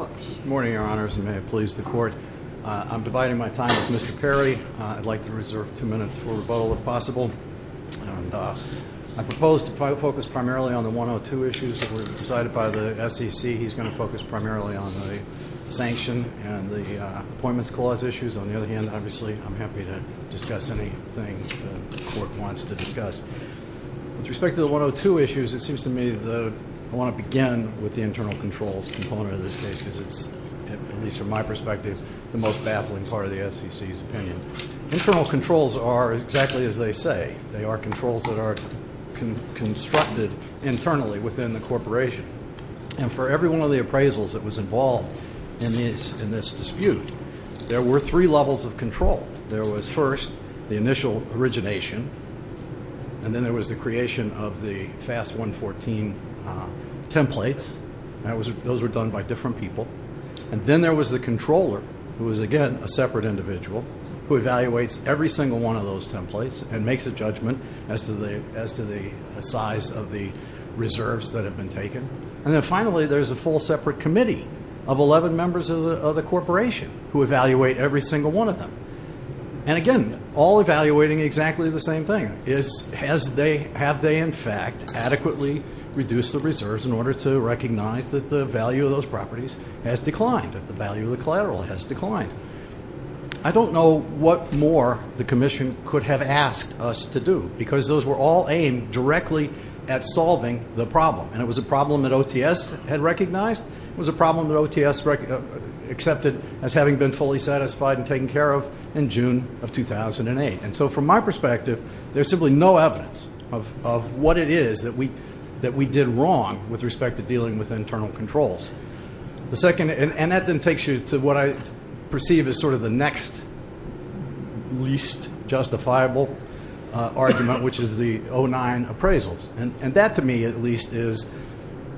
Good morning, Your Honors, and may it please the Court. I'm dividing my time with Mr. Perry. I'd like to reserve two minutes for rebuttal, if possible. I propose to focus primarily on the 102 issues that were decided by the SEC. He's going to focus primarily on the sanction and the appointments clause issues. On the other hand, obviously, I'm happy to discuss anything the Court wants to discuss. With respect to the 102 issues, it seems to me that I want to begin with the internal controls component of this case because it's, at least from my perspective, the most baffling part of the SEC's opinion. Internal controls are exactly as they say. They are controls that are constructed internally within the corporation. And for every one of the appraisals that was involved in this dispute, there were three levels of control. There was, first, the initial origination, and then there was the creation of the FAST 114 templates. Those were done by different people. And then there was the controller, who was, again, a separate individual, who evaluates every single one of those templates and makes a judgment as to the size of the reserves that have been taken. And then, finally, there's a full separate committee of 11 members of the corporation who evaluate every single one of them. And, again, all evaluating exactly the same thing, is have they, in fact, adequately reduced the reserves in order to recognize that the value of those properties has declined, that the value of the collateral has declined. I don't know what more the commission could have asked us to do because those were all aimed directly at solving the problem. And it was a problem that OTS had recognized. It was a problem that OTS accepted as having been fully satisfied and taken care of in June of 2008. And so, from my perspective, there's simply no evidence of what it is that we did wrong with respect to dealing with internal controls. And that then takes you to what I perceive as sort of the next least justifiable argument, which is the 09 appraisals. And that, to me, at least, is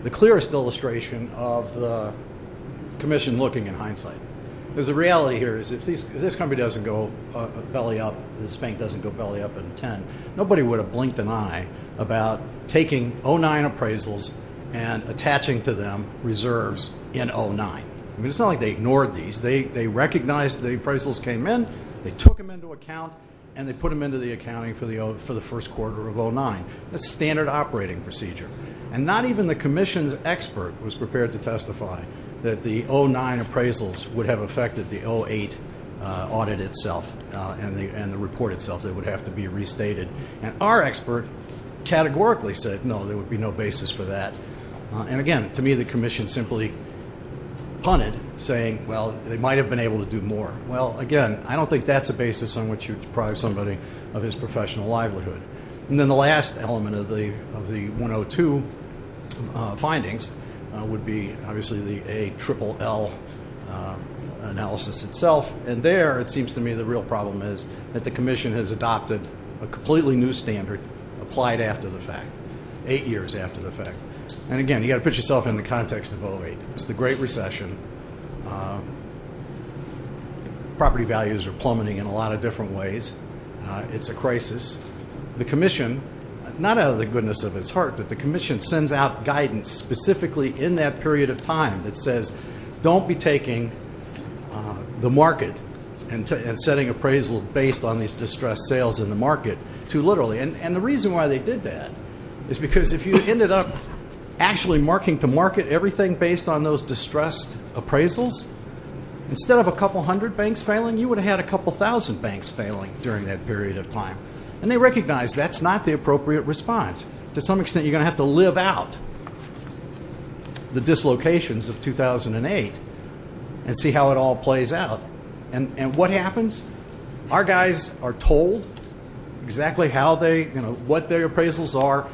the clearest illustration of the commission looking in hindsight. Because the reality here is if this company doesn't go belly up, if this bank doesn't go belly up in intent, nobody would have blinked an eye about taking 09 appraisals and attaching to them reserves in 09. I mean, it's not like they ignored these. They recognized the appraisals came in, they took them into account, and they put them into the accounting for the first quarter of 09. That's standard operating procedure. And not even the commission's expert was prepared to testify that the 09 appraisals would have affected the 08 audit itself and the report itself. They would have to be restated. And our expert categorically said, no, there would be no basis for that. And, again, to me, the commission simply punted, saying, well, they might have been able to do more. Well, again, I don't think that's a basis on which you'd deprive somebody of his professional livelihood. And then the last element of the 102 findings would be, obviously, the ALLL analysis itself. And there, it seems to me, the real problem is that the commission has adopted a completely new standard applied after the fact, eight years after the fact. And, again, you've got to put yourself in the context of 08. It's the Great Recession. Property values are plummeting in a lot of different ways. It's a crisis. The commission, not out of the goodness of its heart, but the commission sends out guidance specifically in that period of time that says, don't be taking the market and setting appraisals based on these distressed sales in the market too literally. And the reason why they did that is because if you ended up actually marking to market everything based on those distressed appraisals, instead of a couple hundred banks failing, you would have had a couple thousand banks failing during that period of time. And they recognize that's not the appropriate response. To some extent, you're going to have to live out the dislocations of 2008 and see how it all plays out. And what happens? Our guys are told exactly what their appraisals are,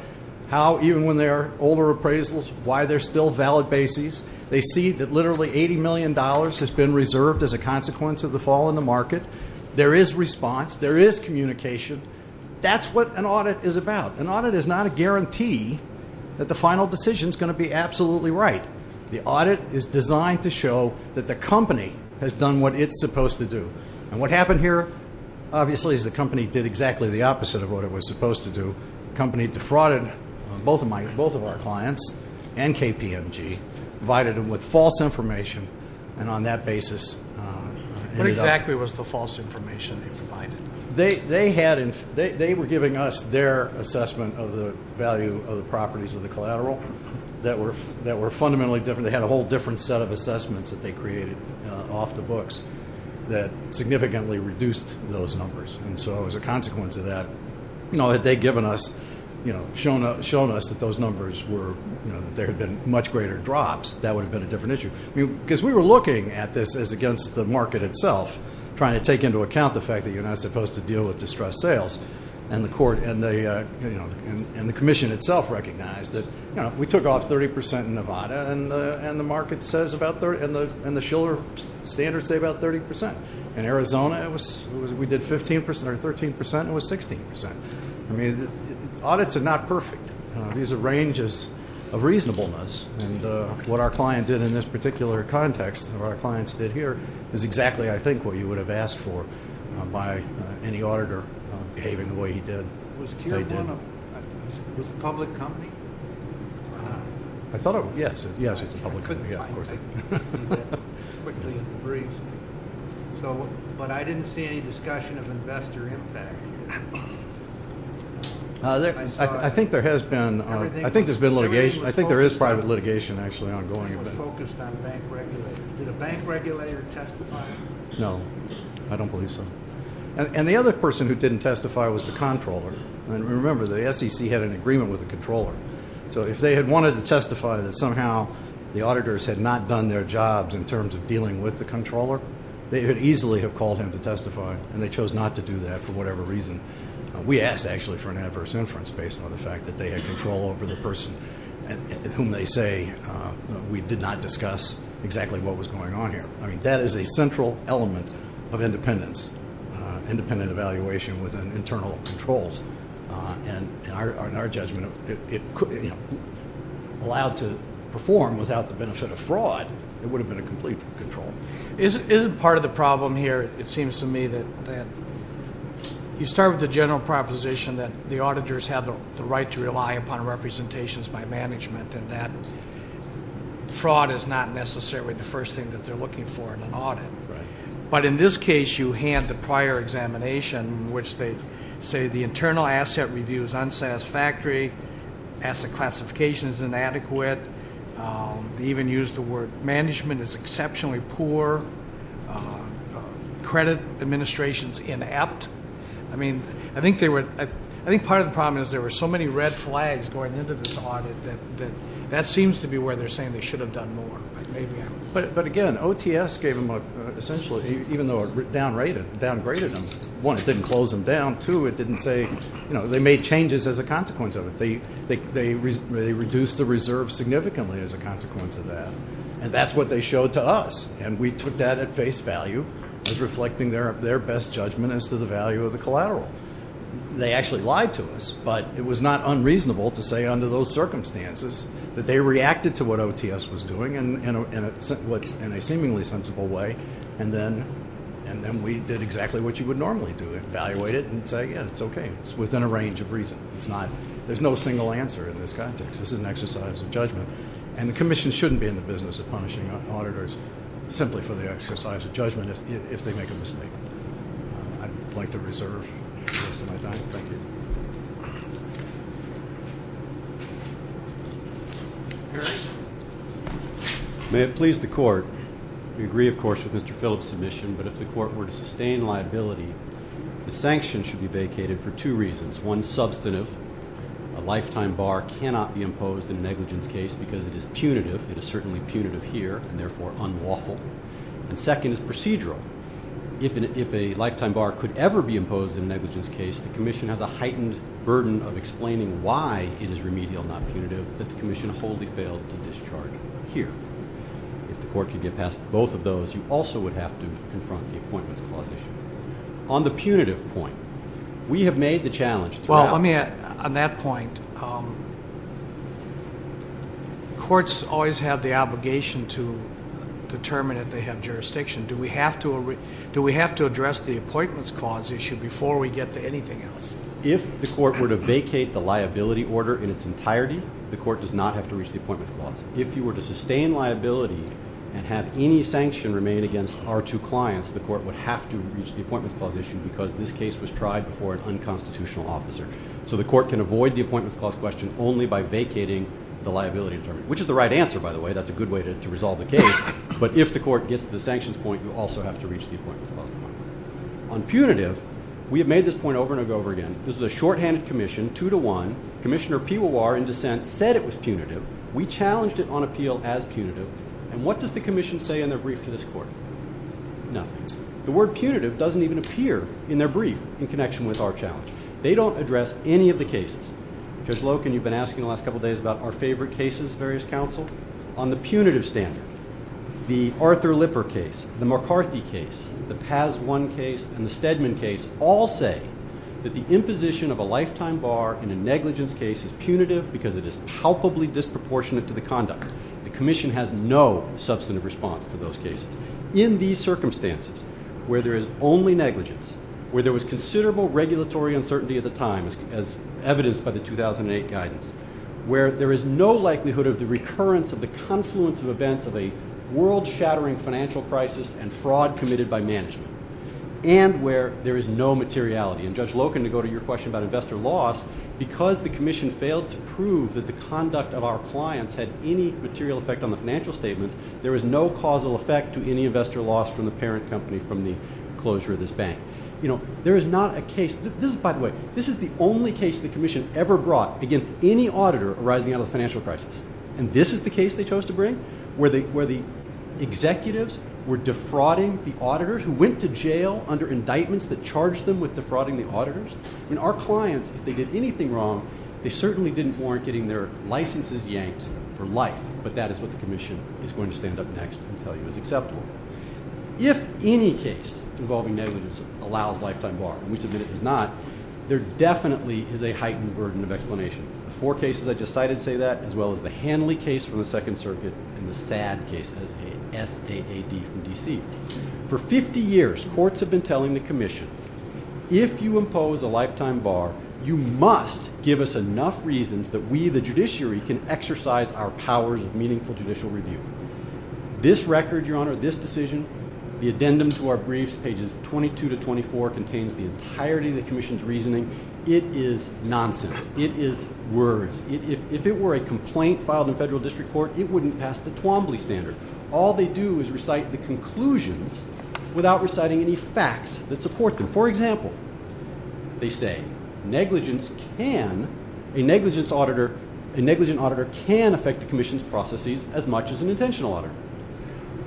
how, even when they're older appraisals, why they're still valid bases. They see that literally $80 million has been reserved as a consequence of the fall in the market. There is response. There is communication. That's what an audit is about. An audit is not a guarantee that the final decision is going to be absolutely right. The audit is designed to show that the company has done what it's supposed to do. And what happened here, obviously, is the company did exactly the opposite of what it was supposed to do. The company defrauded both of our clients and KPMG, provided them with false information, and on that basis. What exactly was the false information they provided? They were giving us their assessment of the value of the properties of the collateral that were fundamentally different. They had a whole different set of assessments that they created off the books that significantly reduced those numbers. And so as a consequence of that, you know, had they given us, you know, shown us that those numbers were, you know, that there had been much greater drops, that would have been a different issue. Because we were looking at this as against the market itself, trying to take into account the fact that you're not supposed to deal with distressed sales. And the commission itself recognized that, you know, we took off 30% in Nevada, and the market says about 30% and the Shuler standards say about 30%. In Arizona, we did 15% or 13% and it was 16%. I mean, audits are not perfect. These are ranges of reasonableness, and what our client did in this particular context, what our clients did here, is exactly, I think, what you would have asked for by any auditor behaving the way he did. Was Tier 1 a public company? I thought it was. Yes, it was a public company. I didn't see any discussion of investor impact. I think there has been. I think there is private litigation actually ongoing. Did a bank regulator testify? No, I don't believe so. And the other person who didn't testify was the controller. And remember, the SEC had an agreement with the controller. So if they had wanted to testify that somehow the auditors had not done their jobs in terms of dealing with the controller, they could easily have called him to testify, and they chose not to do that for whatever reason. We asked, actually, for an adverse inference based on the fact that they had control over the person whom they say we did not discuss exactly what was going on here. I mean, that is a central element of independence, independent evaluation within internal controls. And in our judgment, allowed to perform without the benefit of fraud, it would have been a complete control. Isn't part of the problem here, it seems to me, that you start with the general proposition that the auditors have the right to rely upon representations by management and that fraud is not necessarily the first thing that they're looking for in an audit. But in this case, you hand the prior examination in which they say the internal asset review is unsatisfactory, asset classification is inadequate, they even used the word management is exceptionally poor, credit administration is inept. I mean, I think part of the problem is there were so many red flags going into this audit that that seems to be where they're saying they should have done more. But again, OTS gave them a, essentially, even though it downgraded them, one, it didn't close them down. Two, it didn't say, you know, they made changes as a consequence of it. They reduced the reserve significantly as a consequence of that, and that's what they showed to us. And we took that at face value as reflecting their best judgment as to the value of the collateral. They actually lied to us, but it was not unreasonable to say under those circumstances that they reacted to what OTS was doing in a seemingly sensible way, and then we did exactly what you would normally do, evaluate it and say, yeah, it's okay. It's within a range of reason. There's no single answer in this context. This is an exercise of judgment, and the Commission shouldn't be in the business of punishing auditors simply for the exercise of judgment if they make a mistake. I'd like to reserve the rest of my time. Thank you. Mr. Harris? May it please the Court, we agree, of course, with Mr. Phillips' submission, but if the Court were to sustain liability, the sanction should be vacated for two reasons. One, substantive. A lifetime bar cannot be imposed in a negligence case because it is punitive. It is certainly punitive here and, therefore, unlawful. And second is procedural. If a lifetime bar could ever be imposed in a negligence case, the Commission has a heightened burden of explaining why it is remedial, not punitive, that the Commission wholly failed to discharge it here. If the Court could get past both of those, you also would have to confront the Appointments Clause issue. On the punitive point, we have made the challenge throughout. Well, on that point, courts always have the obligation to determine if they have jurisdiction. Do we have to address the Appointments Clause issue before we get to anything else? If the Court were to vacate the liability order in its entirety, the Court does not have to reach the Appointments Clause. If you were to sustain liability and have any sanction remain against our two clients, the Court would have to reach the Appointments Clause issue because this case was tried before an unconstitutional officer. So the Court can avoid the Appointments Clause question only by vacating the liability determination, which is the right answer, by the way. That's a good way to resolve the case. But if the Court gets to the sanctions point, you also have to reach the Appointments Clause point. On punitive, we have made this point over and over again. This is a shorthanded Commission, two-to-one. Commissioner Piwar in dissent said it was punitive. We challenged it on appeal as punitive. And what does the Commission say in their brief to this Court? Nothing. The word punitive doesn't even appear in their brief in connection with our challenge. They don't address any of the cases. Judge Loken, you've been asking the last couple of days about our favorite cases, various counsel. On the punitive standard, the Arthur Lipper case, the McCarthy case, the Paz One case, and the Stedman case all say that the imposition of a lifetime bar in a negligence case is punitive because it is palpably disproportionate to the conduct. The Commission has no substantive response to those cases. In these circumstances, where there is only negligence, where there was considerable regulatory uncertainty at the time, as evidenced by the 2008 guidance, where there is no likelihood of the recurrence of the confluence of events of a world-shattering financial crisis and fraud committed by management, and where there is no materiality. And Judge Loken, to go to your question about investor loss, because the Commission failed to prove that the conduct of our clients had any material effect on the financial statements, there is no causal effect to any investor loss from the parent company from the closure of this bank. By the way, this is the only case the Commission ever brought against any auditor arising out of a financial crisis. And this is the case they chose to bring, where the executives were defrauding the auditors who went to jail under indictments that charged them with defrauding the auditors? Our clients, if they did anything wrong, they certainly didn't warrant getting their licenses yanked for life. But that is what the Commission is going to stand up next and tell you is acceptable. If any case involving negligence allows lifetime bar, and we submit it does not, there definitely is a heightened burden of explanation. The four cases I just cited say that, as well as the Hanley case from the Second Circuit, and the SAAD case, S-A-A-D from D.C. For 50 years, courts have been telling the Commission, if you impose a lifetime bar, you must give us enough reasons that we, the judiciary, can exercise our powers of meaningful judicial review. This record, Your Honor, this decision, the addendum to our briefs, pages 22 to 24, contains the entirety of the Commission's reasoning. It is nonsense. It is words. If it were a complaint filed in federal district court, it wouldn't pass the Twombly standard. All they do is recite the conclusions without reciting any facts that support them. For example, they say negligence can, a negligence auditor, a negligence auditor can affect the Commission's processes as much as an intentional auditor.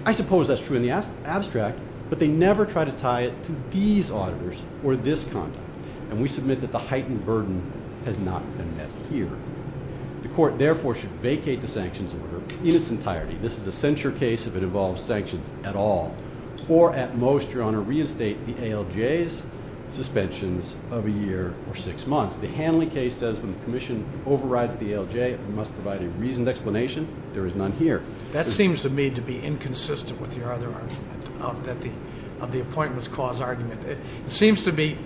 I suppose that's true in the abstract, but they never try to tie it to these auditors or this conduct, and we submit that the heightened burden has not been met here. The court, therefore, should vacate the sanctions order in its entirety. This is a censure case if it involves sanctions at all, or at most, Your Honor, reinstate the ALJ's suspensions of a year or six months. The Hanley case says when the Commission overrides the ALJ, it must provide a reasoned explanation. There is none here. That seems to me to be inconsistent with your other argument of the appointments clause argument. It seems to be,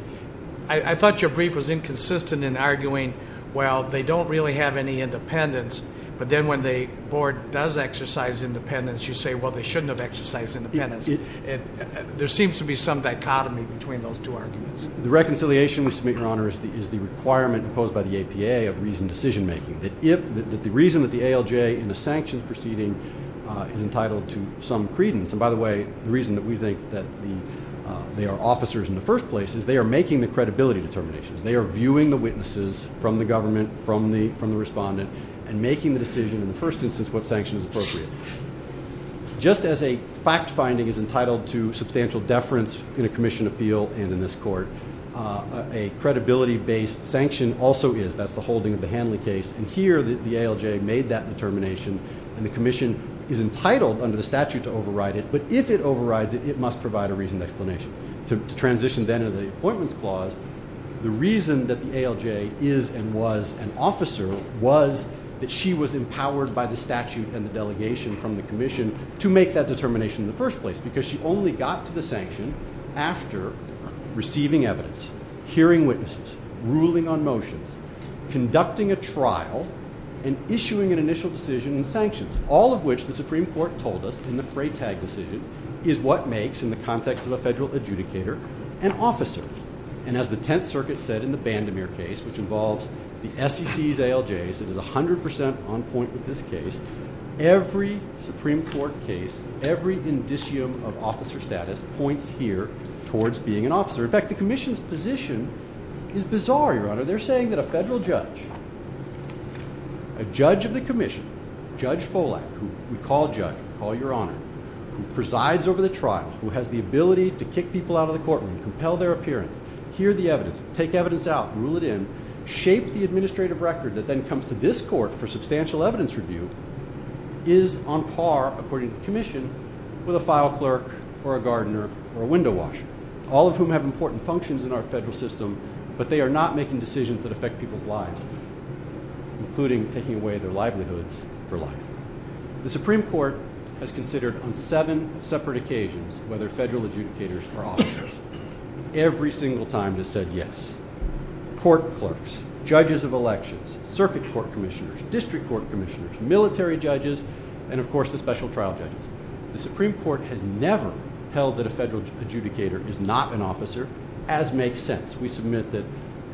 I thought your brief was inconsistent in arguing, well, they don't really have any independence, but then when the board does exercise independence, you say, well, they shouldn't have exercised independence. There seems to be some dichotomy between those two arguments. The reconciliation we submit, Your Honor, is the requirement imposed by the APA of reasoned decision making. The reason that the ALJ in the sanctions proceeding is entitled to some credence, and by the way, the reason that we think that they are officers in the first place is they are making the credibility determinations. They are viewing the witnesses from the government, from the respondent, and making the decision in the first instance what sanction is appropriate. Just as a fact finding is entitled to substantial deference in a Commission appeal and in this court, a credibility-based sanction also is. That's the holding of the Hanley case, and here the ALJ made that determination, and the Commission is entitled under the statute to override it, but if it overrides it, it must provide a reasoned explanation. To transition then to the appointments clause, the reason that the ALJ is and was an officer was that she was empowered by the statute and the delegation from the Commission to make that determination in the first place because she only got to the sanction after receiving evidence, hearing witnesses, ruling on motions, conducting a trial, and issuing an initial decision in sanctions, all of which the Supreme Court told us in the Freytag decision is what makes, in the context of a federal adjudicator, an officer. And as the Tenth Circuit said in the Bandemere case, which involves the SEC's ALJs, it is 100% on point with this case, every Supreme Court case, every indicium of officer status points here towards being an officer. In fact, the Commission's position is bizarre, Your Honor. They're saying that a federal judge, a judge of the Commission, Judge Folak, who we call Judge, we call Your Honor, who presides over the trial, who has the ability to kick people out of the courtroom, compel their appearance, hear the evidence, take evidence out, rule it in, shape the administrative record that then comes to this court for substantial evidence review, is on par, according to the Commission, with a file clerk or a gardener or a window washer, all of whom have important functions in our federal system, but they are not making decisions that affect people's lives, including taking away their livelihoods for life. The Supreme Court has considered on seven separate occasions whether federal adjudicators are officers. Every single time it has said yes. Court clerks, judges of elections, circuit court commissioners, district court commissioners, military judges, and, of course, the special trial judges. The Supreme Court has never held that a federal adjudicator is not an officer, as makes sense. We submit that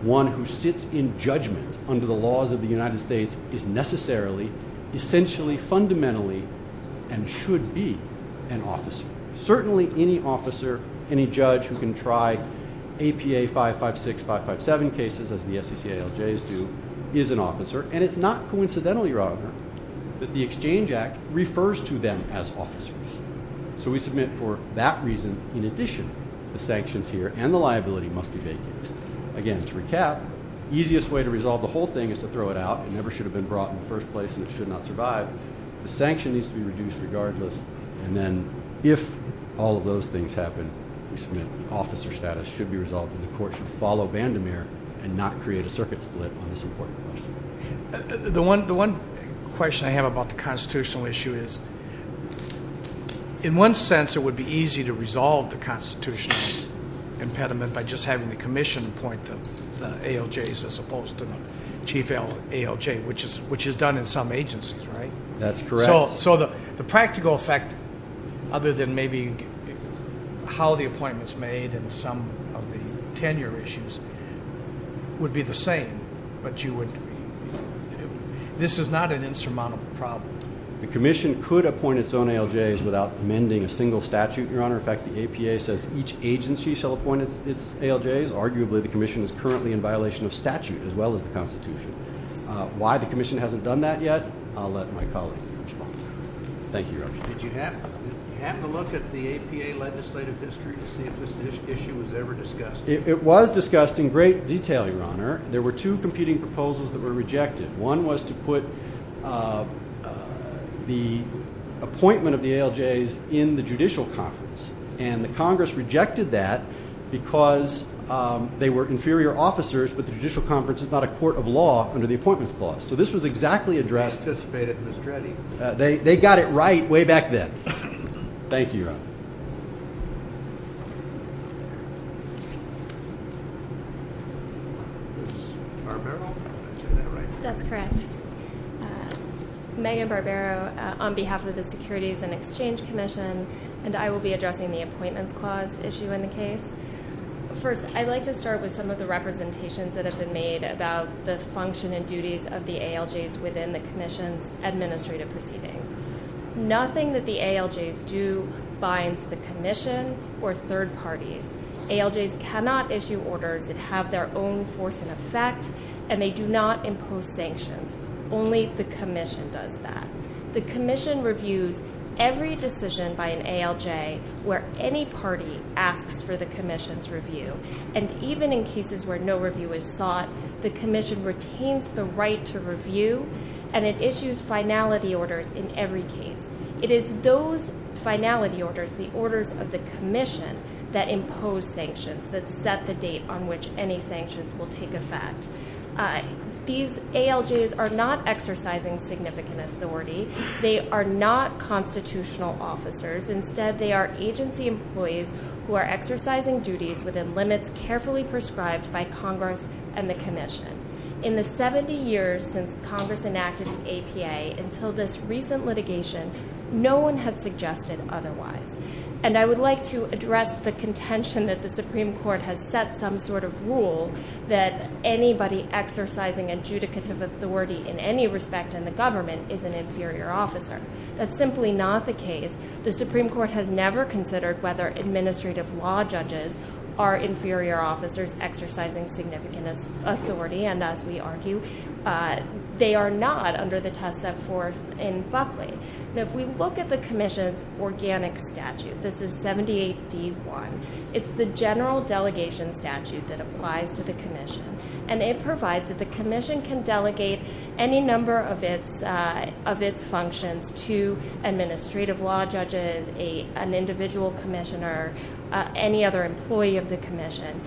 one who sits in judgment under the laws of the United States is necessarily, essentially, fundamentally, and should be an officer. Certainly any officer, any judge who can try APA 556, 557 cases, as the SECALJs do, is an officer. And it's not coincidentally, rather, that the Exchange Act refers to them as officers. So we submit for that reason, in addition, the sanctions here and the liability must be vacated. Again, to recap, the easiest way to resolve the whole thing is to throw it out and it never should have been brought in the first place and it should not survive. The sanction needs to be reduced regardless. And then if all of those things happen, we submit the officer status should be resolved and the court should follow Vandermeer and not create a circuit split on this important question. The one question I have about the constitutional issue is, in one sense, it would be easy to resolve the constitutional impediment by just having the commission appoint the ALJs as opposed to the chief ALJ, which is done in some agencies, right? That's correct. So the practical effect, other than maybe how the appointment is made and some of the tenure issues, would be the same. But this is not an insurmountable problem. The commission could appoint its own ALJs without amending a single statute, Your Honor. As a matter of fact, the APA says each agency shall appoint its ALJs. Arguably, the commission is currently in violation of statute as well as the Constitution. Why the commission hasn't done that yet, I'll let my colleague respond. Thank you, Your Honor. Did you have to look at the APA legislative history to see if this issue was ever discussed? It was discussed in great detail, Your Honor. There were two competing proposals that were rejected. One was to put the appointment of the ALJs in the judicial conference, and the Congress rejected that because they were inferior officers, but the judicial conference is not a court of law under the Appointments Clause. So this was exactly addressed. They anticipated it, Ms. Dreddy. They got it right way back then. Thank you, Your Honor. Ms. Barbero? Is that right? That's correct. Megan Barbero, on behalf of the Securities and Exchange Commission, and I will be addressing the Appointments Clause issue in the case. First, I'd like to start with some of the representations that have been made about the function and duties of the ALJs within the commission's administrative proceedings. Nothing that the ALJs do binds the commission or third parties. ALJs cannot issue orders that have their own force and effect, and they do not impose sanctions. Only the commission does that. The commission reviews every decision by an ALJ where any party asks for the commission's review, and even in cases where no review is sought, the commission retains the right to review, and it issues finality orders in every case. It is those finality orders, the orders of the commission, that impose sanctions, that set the date on which any sanctions will take effect. These ALJs are not exercising significant authority. They are not constitutional officers. Instead, they are agency employees who are exercising duties within limits carefully prescribed by Congress and the commission. In the 70 years since Congress enacted the APA until this recent litigation, no one had suggested otherwise. And I would like to address the contention that the Supreme Court has set some sort of rule that anybody exercising adjudicative authority in any respect in the government is an inferior officer. That's simply not the case. The Supreme Court has never considered whether administrative law judges are inferior officers exercising significant authority, and as we argue, they are not under the test of force in Buckley. If we look at the commission's organic statute, this is 78D1, it's the general delegation statute that applies to the commission, and it provides that the commission can delegate any number of its functions to administrative law judges, an individual commissioner, any other employee of the commission.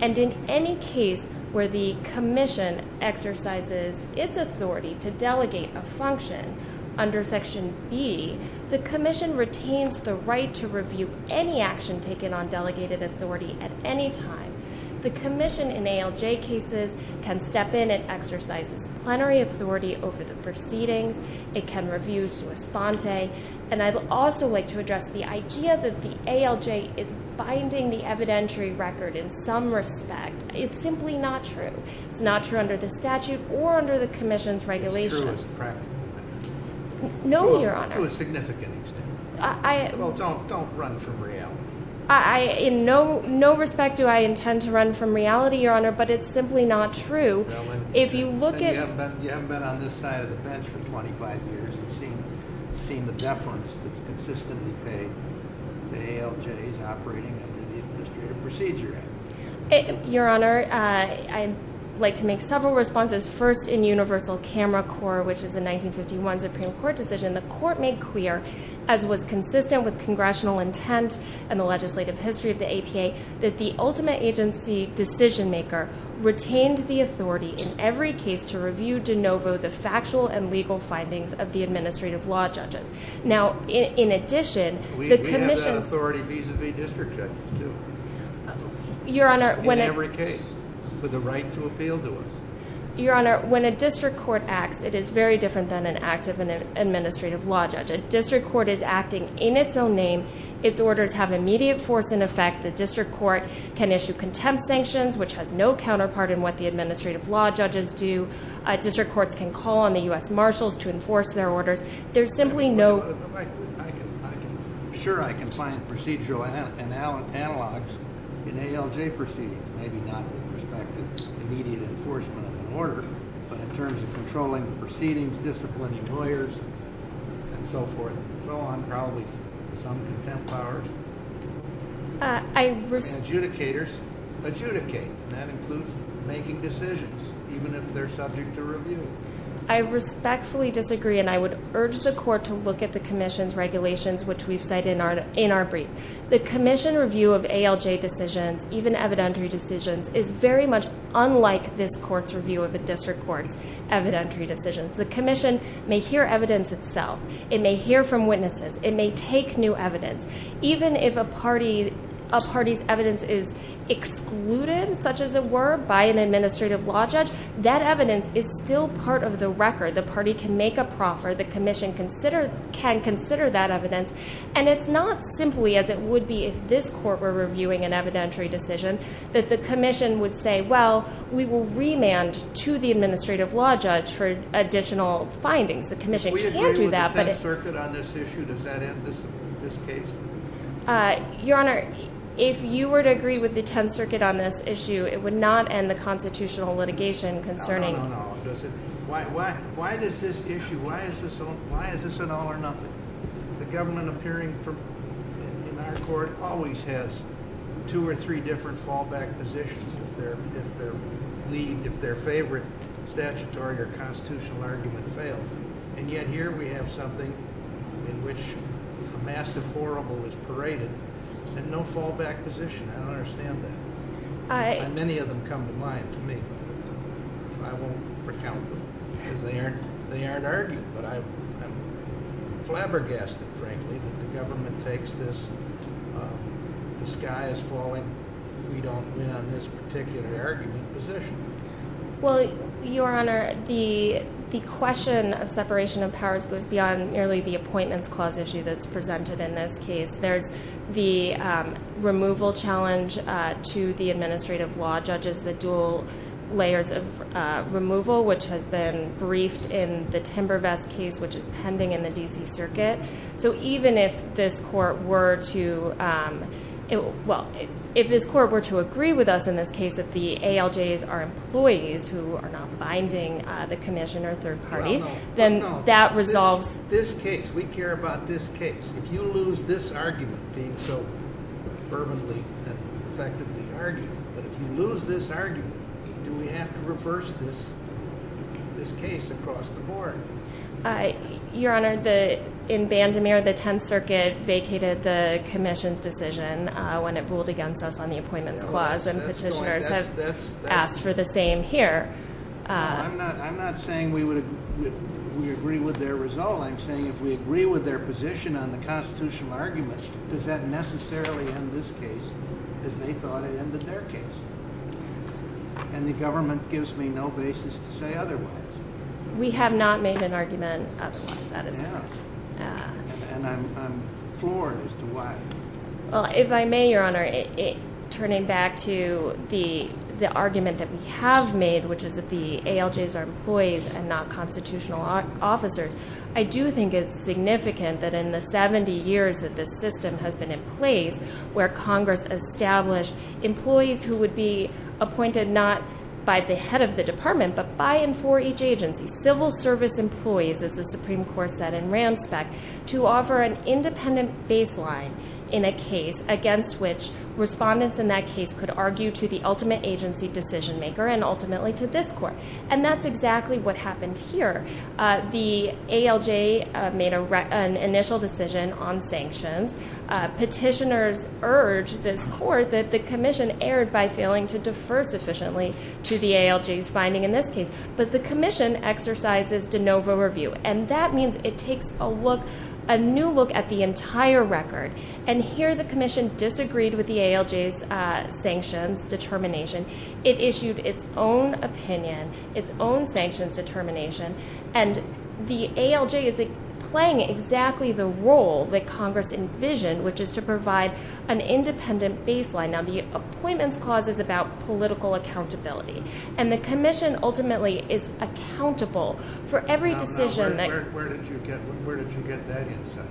And in any case where the commission exercises its authority to delegate a function under Section B, the commission retains the right to review any action taken on delegated authority at any time. The commission in ALJ cases can step in and exercise its plenary authority over the proceedings. It can review sua sponte. And I'd also like to address the idea that the ALJ is binding the evidentiary record in some respect. It's simply not true. It's not true under the statute or under the commission's regulations. It's true as a practical matter. No, Your Honor. To a significant extent. Well, don't run from reality. In no respect do I intend to run from reality, Your Honor, but it's simply not true. You haven't been on this side of the bench for 25 years and seen the deference that's consistently paid to ALJ's operating under the administrative procedure. Your Honor, I'd like to make several responses. First, in Universal Camera Corps, which is a 1951 Supreme Court decision, the court made clear, as was consistent with congressional intent and the legislative history of the APA, that the ultimate agency decision-maker retained the authority in every case to review de novo the factual and legal findings of the administrative law judges. Now, in addition, the commission- We have that authority vis-a-vis district judges, too. In every case. With the right to appeal to us. Your Honor, when a district court acts, it is very different than an active administrative law judge. A district court is acting in its own name. Its orders have immediate force and effect. The district court can issue contempt sanctions, which has no counterpart in what the administrative law judges do. District courts can call on the U.S. Marshals to enforce their orders. There's simply no- I'm sure I can find procedural analogues in ALJ proceedings, maybe not with respect to immediate enforcement of an order, but in terms of controlling the proceedings, disciplining lawyers, and so forth and so on, probably some contempt powers. I respect- Adjudicators adjudicate. That includes making decisions, even if they're subject to review. I respectfully disagree, and I would urge the court to look at the commission's regulations, which we've cited in our brief. The commission review of ALJ decisions, even evidentiary decisions, is very much unlike this court's review of a district court's evidentiary decisions. The commission may hear evidence itself. It may hear from witnesses. It may take new evidence. Even if a party's evidence is excluded, such as it were, by an administrative law judge, that evidence is still part of the record. The party can make a proffer. The commission can consider that evidence. And it's not simply as it would be if this court were reviewing an evidentiary decision, that the commission would say, well, we will remand to the administrative law judge for additional findings. The commission can't do that. We agree with the 10th Circuit on this issue. Does that end this case? Your Honor, if you were to agree with the 10th Circuit on this issue, it would not end the constitutional litigation concerning No, no, no, no. Why is this an all or nothing? The government appearing in our court always has two or three different fallback positions if their favorite statutory or constitutional argument fails. And yet here we have something in which a massive horrible was paraded and no fallback position. I don't understand that. Many of them come to mind to me. I won't recount them because they aren't argued. But I'm flabbergasted, frankly, that the government takes this, the sky is falling, we don't win on this particular argument position. Well, Your Honor, the question of separation of powers goes beyond merely the Appointments Clause issue that's presented in this case. There's the removal challenge to the administrative law judges, the dual layers of removal, which has been briefed in the Timber Vest case, which is pending in the D.C. Circuit. So even if this court were to, well, if this court were to agree with us in this case that the ALJs are employees who are not binding the commission or third parties, then that resolves. This case, we care about this case. If you lose this argument being so firmly and effectively argued, but if you lose this argument, do we have to reverse this case across the board? Your Honor, in Bandemir, the Tenth Circuit vacated the commission's decision when it ruled against us on the Appointments Clause, and petitioners have asked for the same here. I'm not saying we agree with their resolve. I'm saying if we agree with their position on the constitutional argument, does that necessarily end this case as they thought it ended their case? And the government gives me no basis to say otherwise. We have not made an argument otherwise, that is correct. And I'm floored as to why. Well, if I may, Your Honor, turning back to the argument that we have made, which is that the ALJs are employees and not constitutional officers, I do think it's significant that in the 70 years that this system has been in place, where Congress established employees who would be appointed not by the head of the department, but by and for each agency, civil service employees, as the Supreme Court said in Ramspect, to offer an independent baseline in a case against which respondents in that case could argue to the ultimate agency decision maker and ultimately to this court. And that's exactly what happened here. The ALJ made an initial decision on sanctions. Petitioners urged this court that the commission erred by failing to defer sufficiently to the ALJ's finding in this case. But the commission exercises de novo review, and that means it takes a look, a new look at the entire record. And here the commission disagreed with the ALJ's sanctions determination. It issued its own opinion, its own sanctions determination. And the ALJ is playing exactly the role that Congress envisioned, which is to provide an independent baseline. Now, the appointments clause is about political accountability, and the commission ultimately is accountable for every decision. Now, where did you get that insight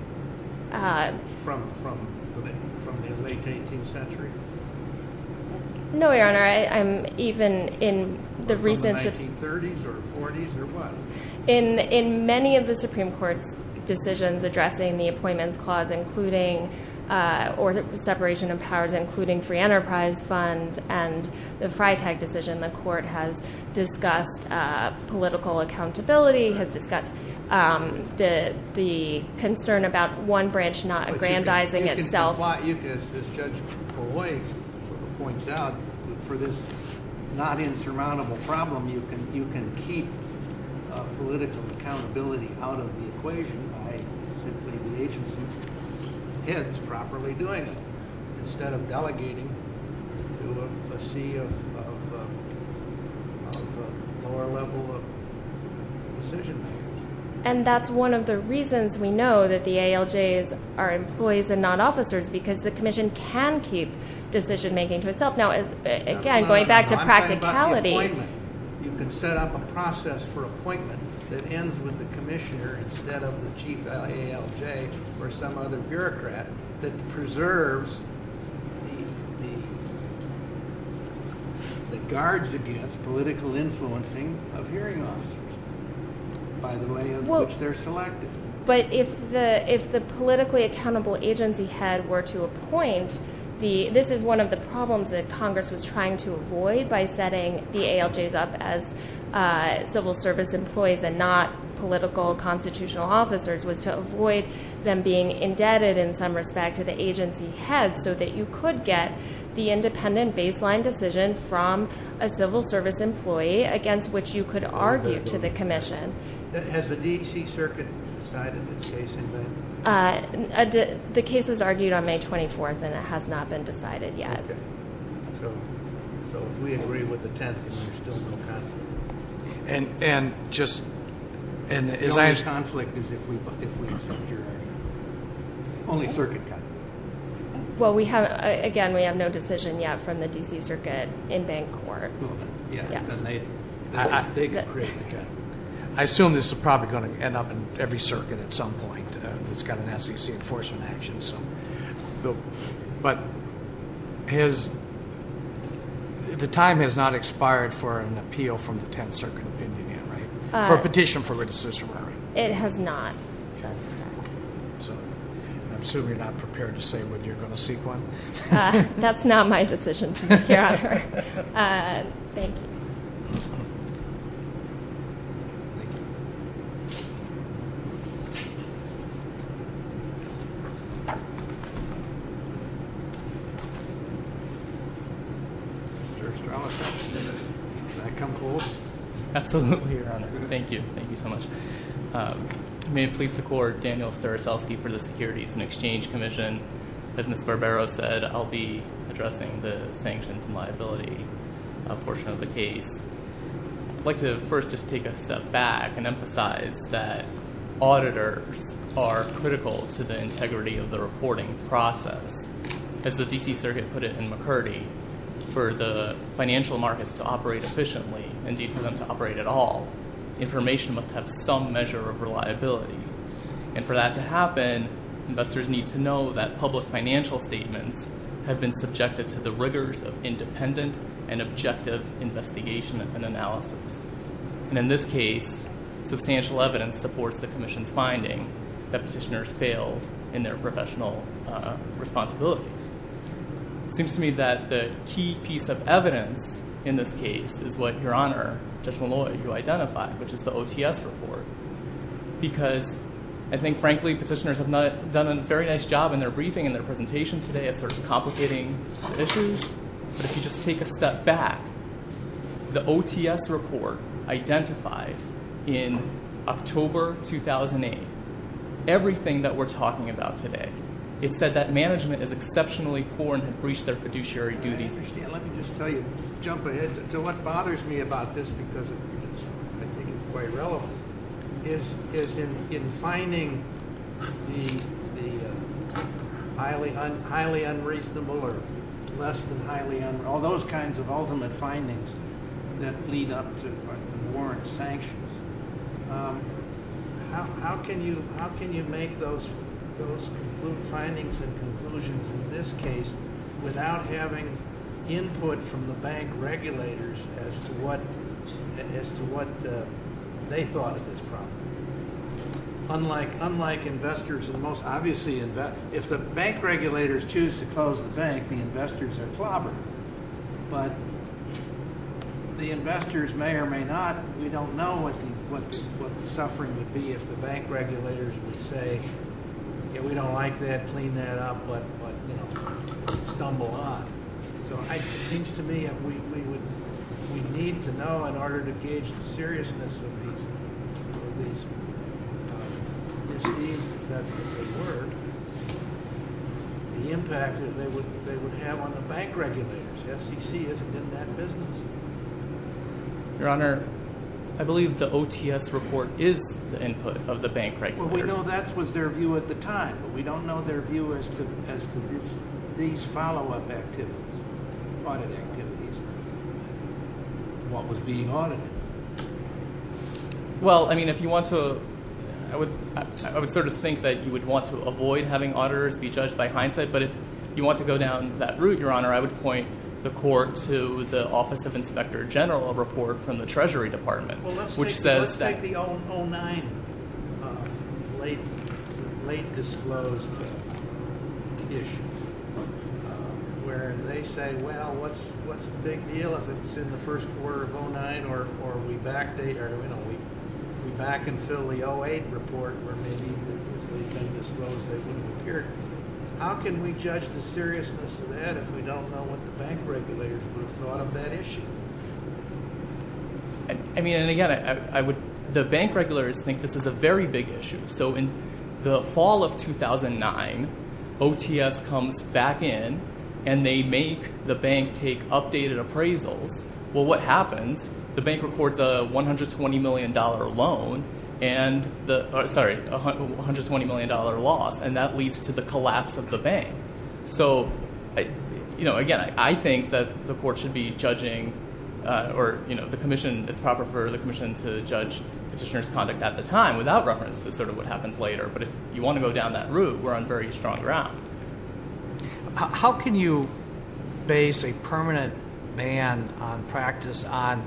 from in the late 18th century? No, Your Honor. I'm even in the recent 1930s or 40s or what? In many of the Supreme Court's decisions addressing the appointments clause, including or the separation of powers, including free enterprise fund and the Freitag decision, the court has discussed political accountability, has discussed the concern about one branch not aggrandizing itself. And that's why, as Judge Poloi points out, for this not insurmountable problem, you can keep political accountability out of the equation by simply the agency heads properly doing it, instead of delegating to a sea of lower level decision makers. And that's one of the reasons we know that the ALJs are employees and not officers, because the commission can keep decision making to itself. Now, again, going back to practicality. I'm talking about the appointment. You can set up a process for appointment that ends with the commissioner instead of the chief ALJ or some other bureaucrat that preserves the guards against political influencing of hearing officers. By the way in which they're selected. But if the politically accountable agency head were to appoint, this is one of the problems that Congress was trying to avoid by setting the ALJs up as civil service employees and not political constitutional officers, was to avoid them being indebted in some respect to the agency head so that you could get the independent baseline decision from a civil service employee against which you could argue to the commission. Has the D.C. Circuit decided its case in that? The case was argued on May 24th, and it has not been decided yet. Okay. So if we agree with the 10th, then there's still no conflict. And just- The only conflict is if we accept your opinion. Only Circuit got it. Well, again, we have no decision yet from the D.C. Circuit in Vancouver. Yeah, then they could create the judgment. I assume this is probably going to end up in every circuit at some point. It's got an SEC enforcement action. But the time has not expired for an appeal from the 10th Circuit opinion yet, right? For a petition for a decision. It has not. Okay. So I assume you're not prepared to say whether you're going to seek one. That's not my decision to make here on Earth. Thank you. Mr. Ostrowski, can I come close? Absolutely, Your Honor. Thank you. Thank you so much. May it please the Court, Daniel Ostrowski for the Securities and Exchange Commission. As Ms. Barbero said, I'll be addressing the sanctions and liability portion of the case. I'd like to first just take a step back and emphasize that auditors are critical to the integrity of the report. As the D.C. Circuit put it in McCurdy, for the financial markets to operate efficiently, indeed for them to operate at all, information must have some measure of reliability. And for that to happen, investors need to know that public financial statements have been subjected to the rigors of independent and objective investigation and analysis. And in this case, substantial evidence supports the Commission's finding that petitioners failed in their professional responsibilities. It seems to me that the key piece of evidence in this case is what, Your Honor, Judge Molloy, you identified, which is the OTS report. Because I think, frankly, petitioners have done a very nice job in their briefing and their presentation today of sort of complicating issues. But if you just take a step back, the OTS report identified in October 2008 everything that we're talking about today. It said that management is exceptionally poor and had breached their fiduciary duties. Let me just tell you, jump ahead. So what bothers me about this, because I think it's quite relevant, is in finding the highly unreasonable or less than highly unreasonable, all those kinds of ultimate findings that lead up to warrant sanctions, how can you make those findings and conclusions in this case without having input from the bank regulators as to what they thought of this problem? Unlike investors, and most obviously, if the bank regulators choose to close the bank, the investors are clobbered. But the investors may or may not, we don't know what the suffering would be if the bank regulators would say, yeah, we don't like that, clean that up, but stumble on. So it seems to me we need to know in order to gauge the seriousness of these misdeeds, if that's the word, the impact that they would have on the bank regulators. SEC isn't in that business. Your Honor, I believe the OTS report is the input of the bank regulators. Well, we know that was their view at the time, but we don't know their view as to these follow-up activities, audit activities, what was being audited. Well, I mean, if you want to, I would sort of think that you would want to avoid having auditors be judged by hindsight, but if you want to go down that route, Your Honor, I would point the court to the Office of Inspector General report from the Treasury Department. Well, let's take the 0-9 late disclosed issue where they say, well, what's the big deal if it's in the first quarter of 0-9 or we backdate or we back and fill the 0-8 report where maybe it's been disclosed it didn't appear. How can we judge the seriousness of that if we don't know what the bank regulators would have thought of that issue? I mean, and again, I would – the bank regulators think this is a very big issue. So in the fall of 2009, OTS comes back in and they make the bank take updated appraisals. Well, what happens? The bank records a $120 million loan and the – sorry, $120 million loss, and that leads to the collapse of the bank. So, again, I think that the court should be judging or the commission – it's proper for the commission to judge petitioner's conduct at the time without reference to sort of what happens later. But if you want to go down that route, we're on very strong ground. How can you base a permanent ban on practice on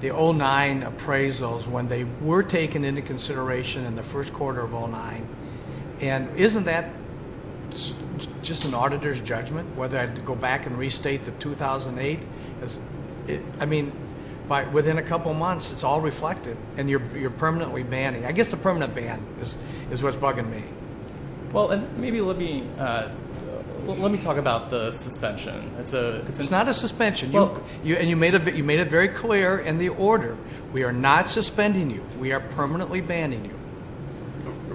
the 0-9 appraisals when they were taken into consideration in the first quarter of 0-9? And isn't that just an auditor's judgment whether I go back and restate the 2008? I mean, within a couple months, it's all reflected and you're permanently banning. I guess the permanent ban is what's bugging me. Well, and maybe let me – let me talk about the suspension. It's not a suspension. And you made it very clear in the order. We are not suspending you. We are permanently banning you.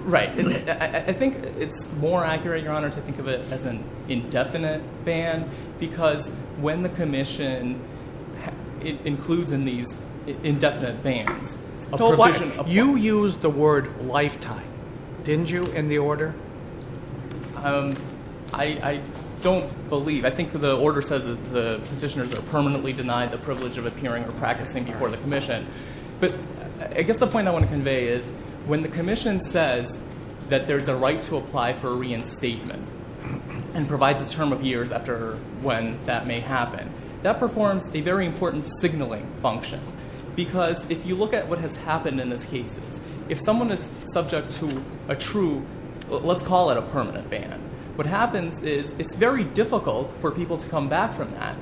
Right. I think it's more accurate, Your Honor, to think of it as an indefinite ban because when the commission – it includes in these indefinite bans. You used the word lifetime, didn't you, in the order? I don't believe – I think the order says that the petitioners are permanently denied the privilege of appearing or practicing before the commission. But I guess the point I want to convey is when the commission says that there's a right to apply for reinstatement and provides a term of years after when that may happen, that performs a very important signaling function. Because if you look at what has happened in these cases, if someone is subject to a true – let's call it a permanent ban. What happens is it's very difficult for people to come back from that.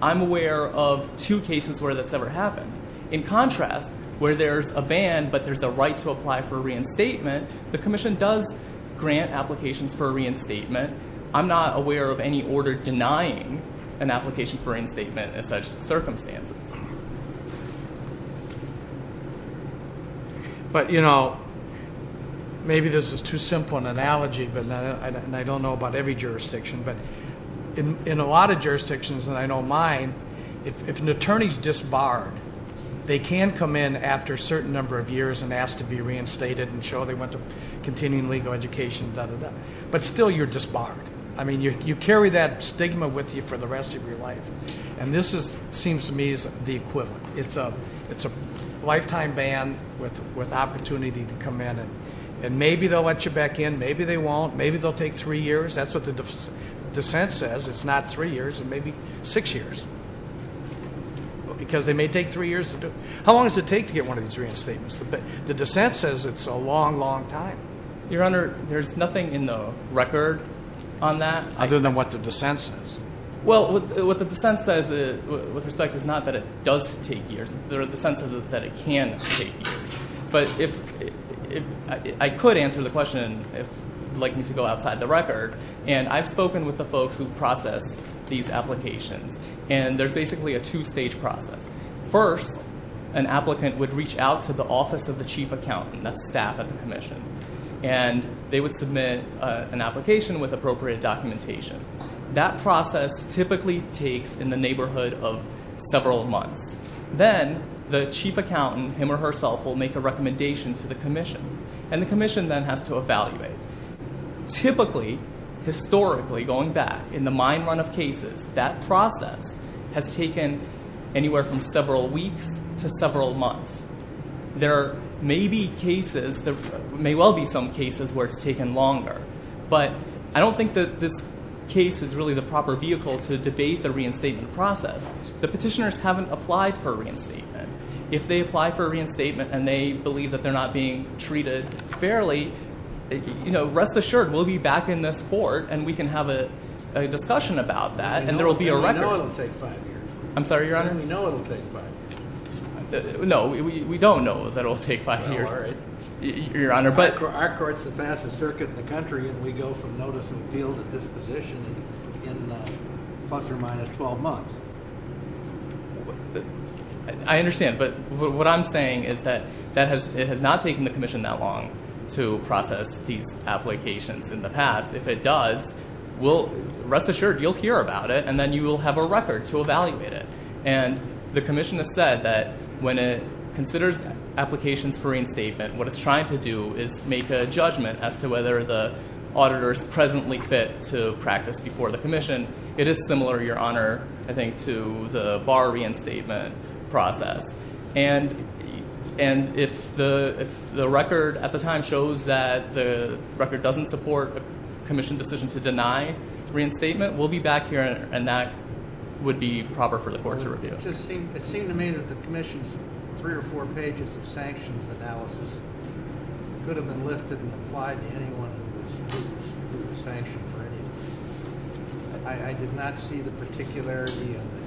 I'm aware of two cases where that's never happened. In contrast, where there's a ban but there's a right to apply for reinstatement, the commission does grant applications for reinstatement. I'm not aware of any order denying an application for reinstatement in such circumstances. But maybe this is too simple an analogy, and I don't know about every jurisdiction. But in a lot of jurisdictions, and I know mine, if an attorney is disbarred, they can come in after a certain number of years and ask to be reinstated and show they went to continuing legal education, but still you're disbarred. I mean you carry that stigma with you for the rest of your life. And this seems to me is the equivalent. It's a lifetime ban with opportunity to come in and maybe they'll let you back in. Maybe they won't. Maybe they'll take three years. That's what the dissent says. It's not three years. It may be six years because they may take three years to do it. How long does it take to get one of these reinstatements? The dissent says it's a long, long time. Your Honor, there's nothing in the record on that? Other than what the dissent says. Well, what the dissent says with respect is not that it does take years. The dissent says that it can take years. But I could answer the question if you'd like me to go outside the record. And I've spoken with the folks who process these applications, and there's basically a two-stage process. First, an applicant would reach out to the office of the chief accountant, that's staff at the commission. And they would submit an application with appropriate documentation. That process typically takes in the neighborhood of several months. Then the chief accountant, him or herself, will make a recommendation to the commission. And the commission then has to evaluate. Typically, historically, going back in the mine run of cases, that process has taken anywhere from several weeks to several months. There may be cases, there may well be some cases where it's taken longer. But I don't think that this case is really the proper vehicle to debate the reinstatement process. The petitioners haven't applied for a reinstatement. If they apply for a reinstatement and they believe that they're not being treated fairly, rest assured, we'll be back in this court and we can have a discussion about that. And there will be a record. We know it will take five years. I'm sorry, Your Honor? We know it will take five years. No, we don't know that it will take five years, Your Honor. Our court's the fastest circuit in the country, and we go from notice and appeal to disposition in plus or minus 12 months. I understand. But what I'm saying is that it has not taken the commission that long to process these applications in the past. If it does, rest assured, you'll hear about it, and then you will have a record to evaluate it. And the commission has said that when it considers applications for reinstatement, what it's trying to do is make a judgment as to whether the auditor is presently fit to practice before the commission. It is similar, Your Honor, I think, to the bar reinstatement process. And if the record at the time shows that the record doesn't support a commission decision to deny reinstatement, we'll be back here and that would be proper for the court to review. It seemed to me that the commission's three or four pages of sanctions analysis could have been lifted and applied to anyone who was sanctioned for any reason. I did not see the particularity of the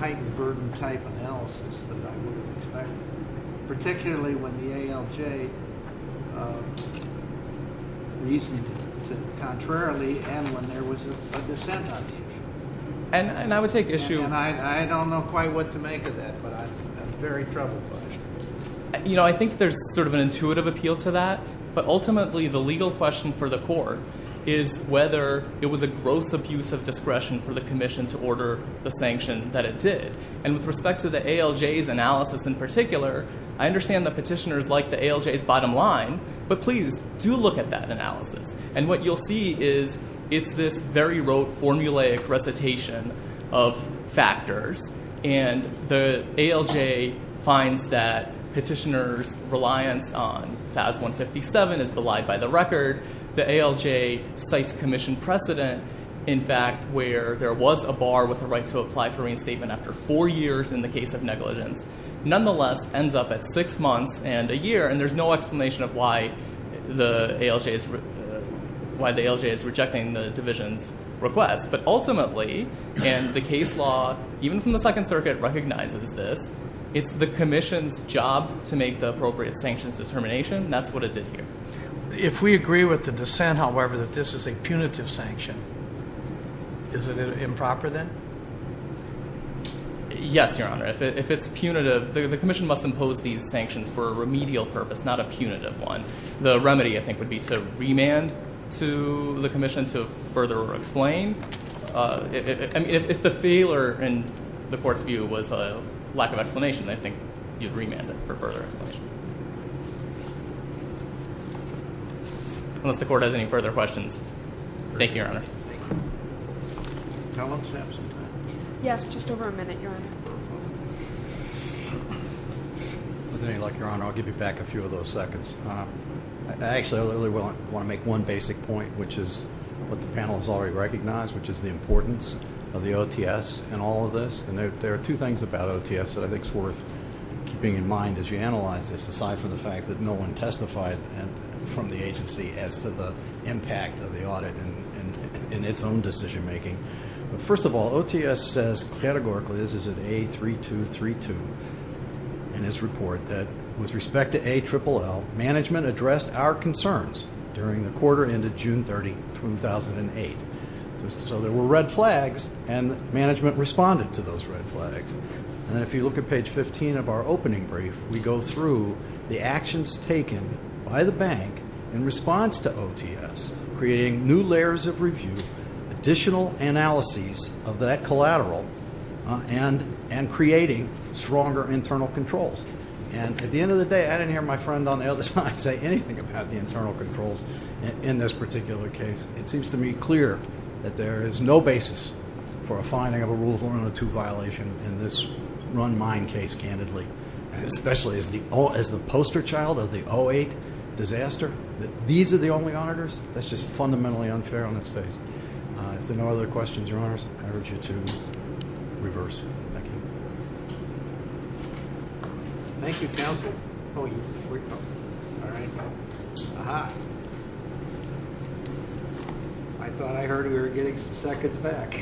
heightened burden type analysis that I would have expected, particularly when the ALJ reasoned it contrarily and when there was a dissent on the issue. And I would take issue- And I don't know quite what to make of that, but I'm very troubled by it. I think there's sort of an intuitive appeal to that, but ultimately the legal question for the court is whether it was a gross abuse of discretion for the commission to order the sanction that it did. And with respect to the ALJ's analysis in particular, I understand the petitioners like the ALJ's bottom line, but please do look at that analysis. And what you'll see is it's this very rote, formulaic recitation of factors. And the ALJ finds that petitioners' reliance on FAS 157 is belied by the record. The ALJ cites commission precedent, in fact, where there was a bar with the right to apply for reinstatement after four years in the case of negligence. Nonetheless, ends up at six months and a year, and there's no explanation of why the ALJ is rejecting the division's request. But ultimately, and the case law, even from the Second Circuit, recognizes this, it's the commission's job to make the appropriate sanctions determination. That's what it did here. If we agree with the dissent, however, that this is a punitive sanction, is it improper then? Yes, Your Honor. If it's punitive, the commission must impose these sanctions for a remedial purpose, not a punitive one. The remedy, I think, would be to remand to the commission to further explain. If the failure in the court's view was a lack of explanation, I think you'd remand it for further explanation. Unless the court has any further questions. Thank you, Your Honor. Yes, just over a minute, Your Honor. With any luck, Your Honor, I'll give you back a few of those seconds. Actually, I really want to make one basic point, which is what the panel has already recognized, which is the importance of the OTS in all of this. And there are two things about OTS that I think is worth keeping in mind as you analyze this, aside from the fact that no one testified from the agency as to the impact of the audit in its own decision-making. First of all, OTS says categorically, as is in A3232 in its report, that with respect to ALLL, management addressed our concerns during the quarter ended June 30, 2008. So there were red flags, and management responded to those red flags. And if you look at page 15 of our opening brief, we go through the actions taken by the bank in response to OTS, creating new layers of review, additional analyses of that collateral, and creating stronger internal controls. And at the end of the day, I didn't hear my friend on the other side say anything about the internal controls in this particular case. It seems to me clear that there is no basis for a finding of a rule of one and a two violation in this run mine case, candidly, especially as the poster child of the 2008 disaster, that these are the only auditors. That's just fundamentally unfair on its face. If there are no other questions, Your Honors, I urge you to reverse. Thank you. Thank you, Counsel. Oh, you freaked me out. All right. Aha. I thought I heard we were getting some seconds back.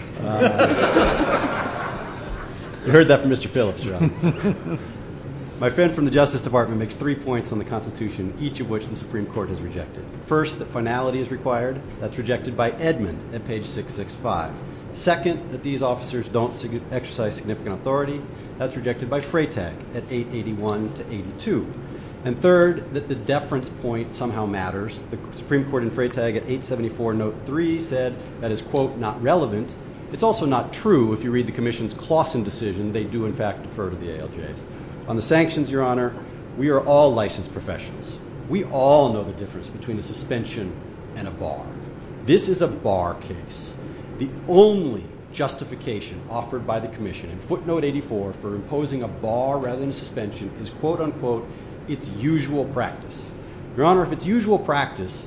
You heard that from Mr. Phillips, Your Honor. My friend from the Justice Department makes three points on the Constitution, each of which the Supreme Court has rejected. First, that finality is required. That's rejected by Edmund at page 665. Second, that these officers don't exercise significant authority. That's rejected by Freytag at 881 to 82. And third, that the deference point somehow matters. The Supreme Court in Freytag at 874 note 3 said that is, quote, not relevant. It's also not true if you read the Commission's Claussen decision. They do, in fact, defer to the ALJs. On the sanctions, Your Honor, we are all licensed professionals. We all know the difference between a suspension and a bar. This is a bar case. The only justification offered by the Commission in footnote 84 for imposing a bar rather than a suspension is, quote, unquote, its usual practice. Your Honor, if its usual practice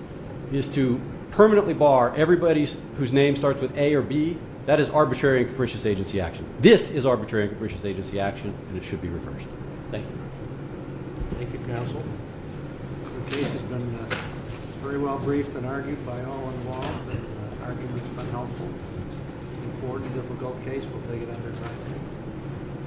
is to permanently bar everybody whose name starts with A or B, that is arbitrary and capricious agency action. This is arbitrary and capricious agency action, and it should be reversed. Thank you. Thank you, counsel. The case has been very well briefed and argued by all involved. The argument's been helpful. It's an important, difficult case. We'll take it under time.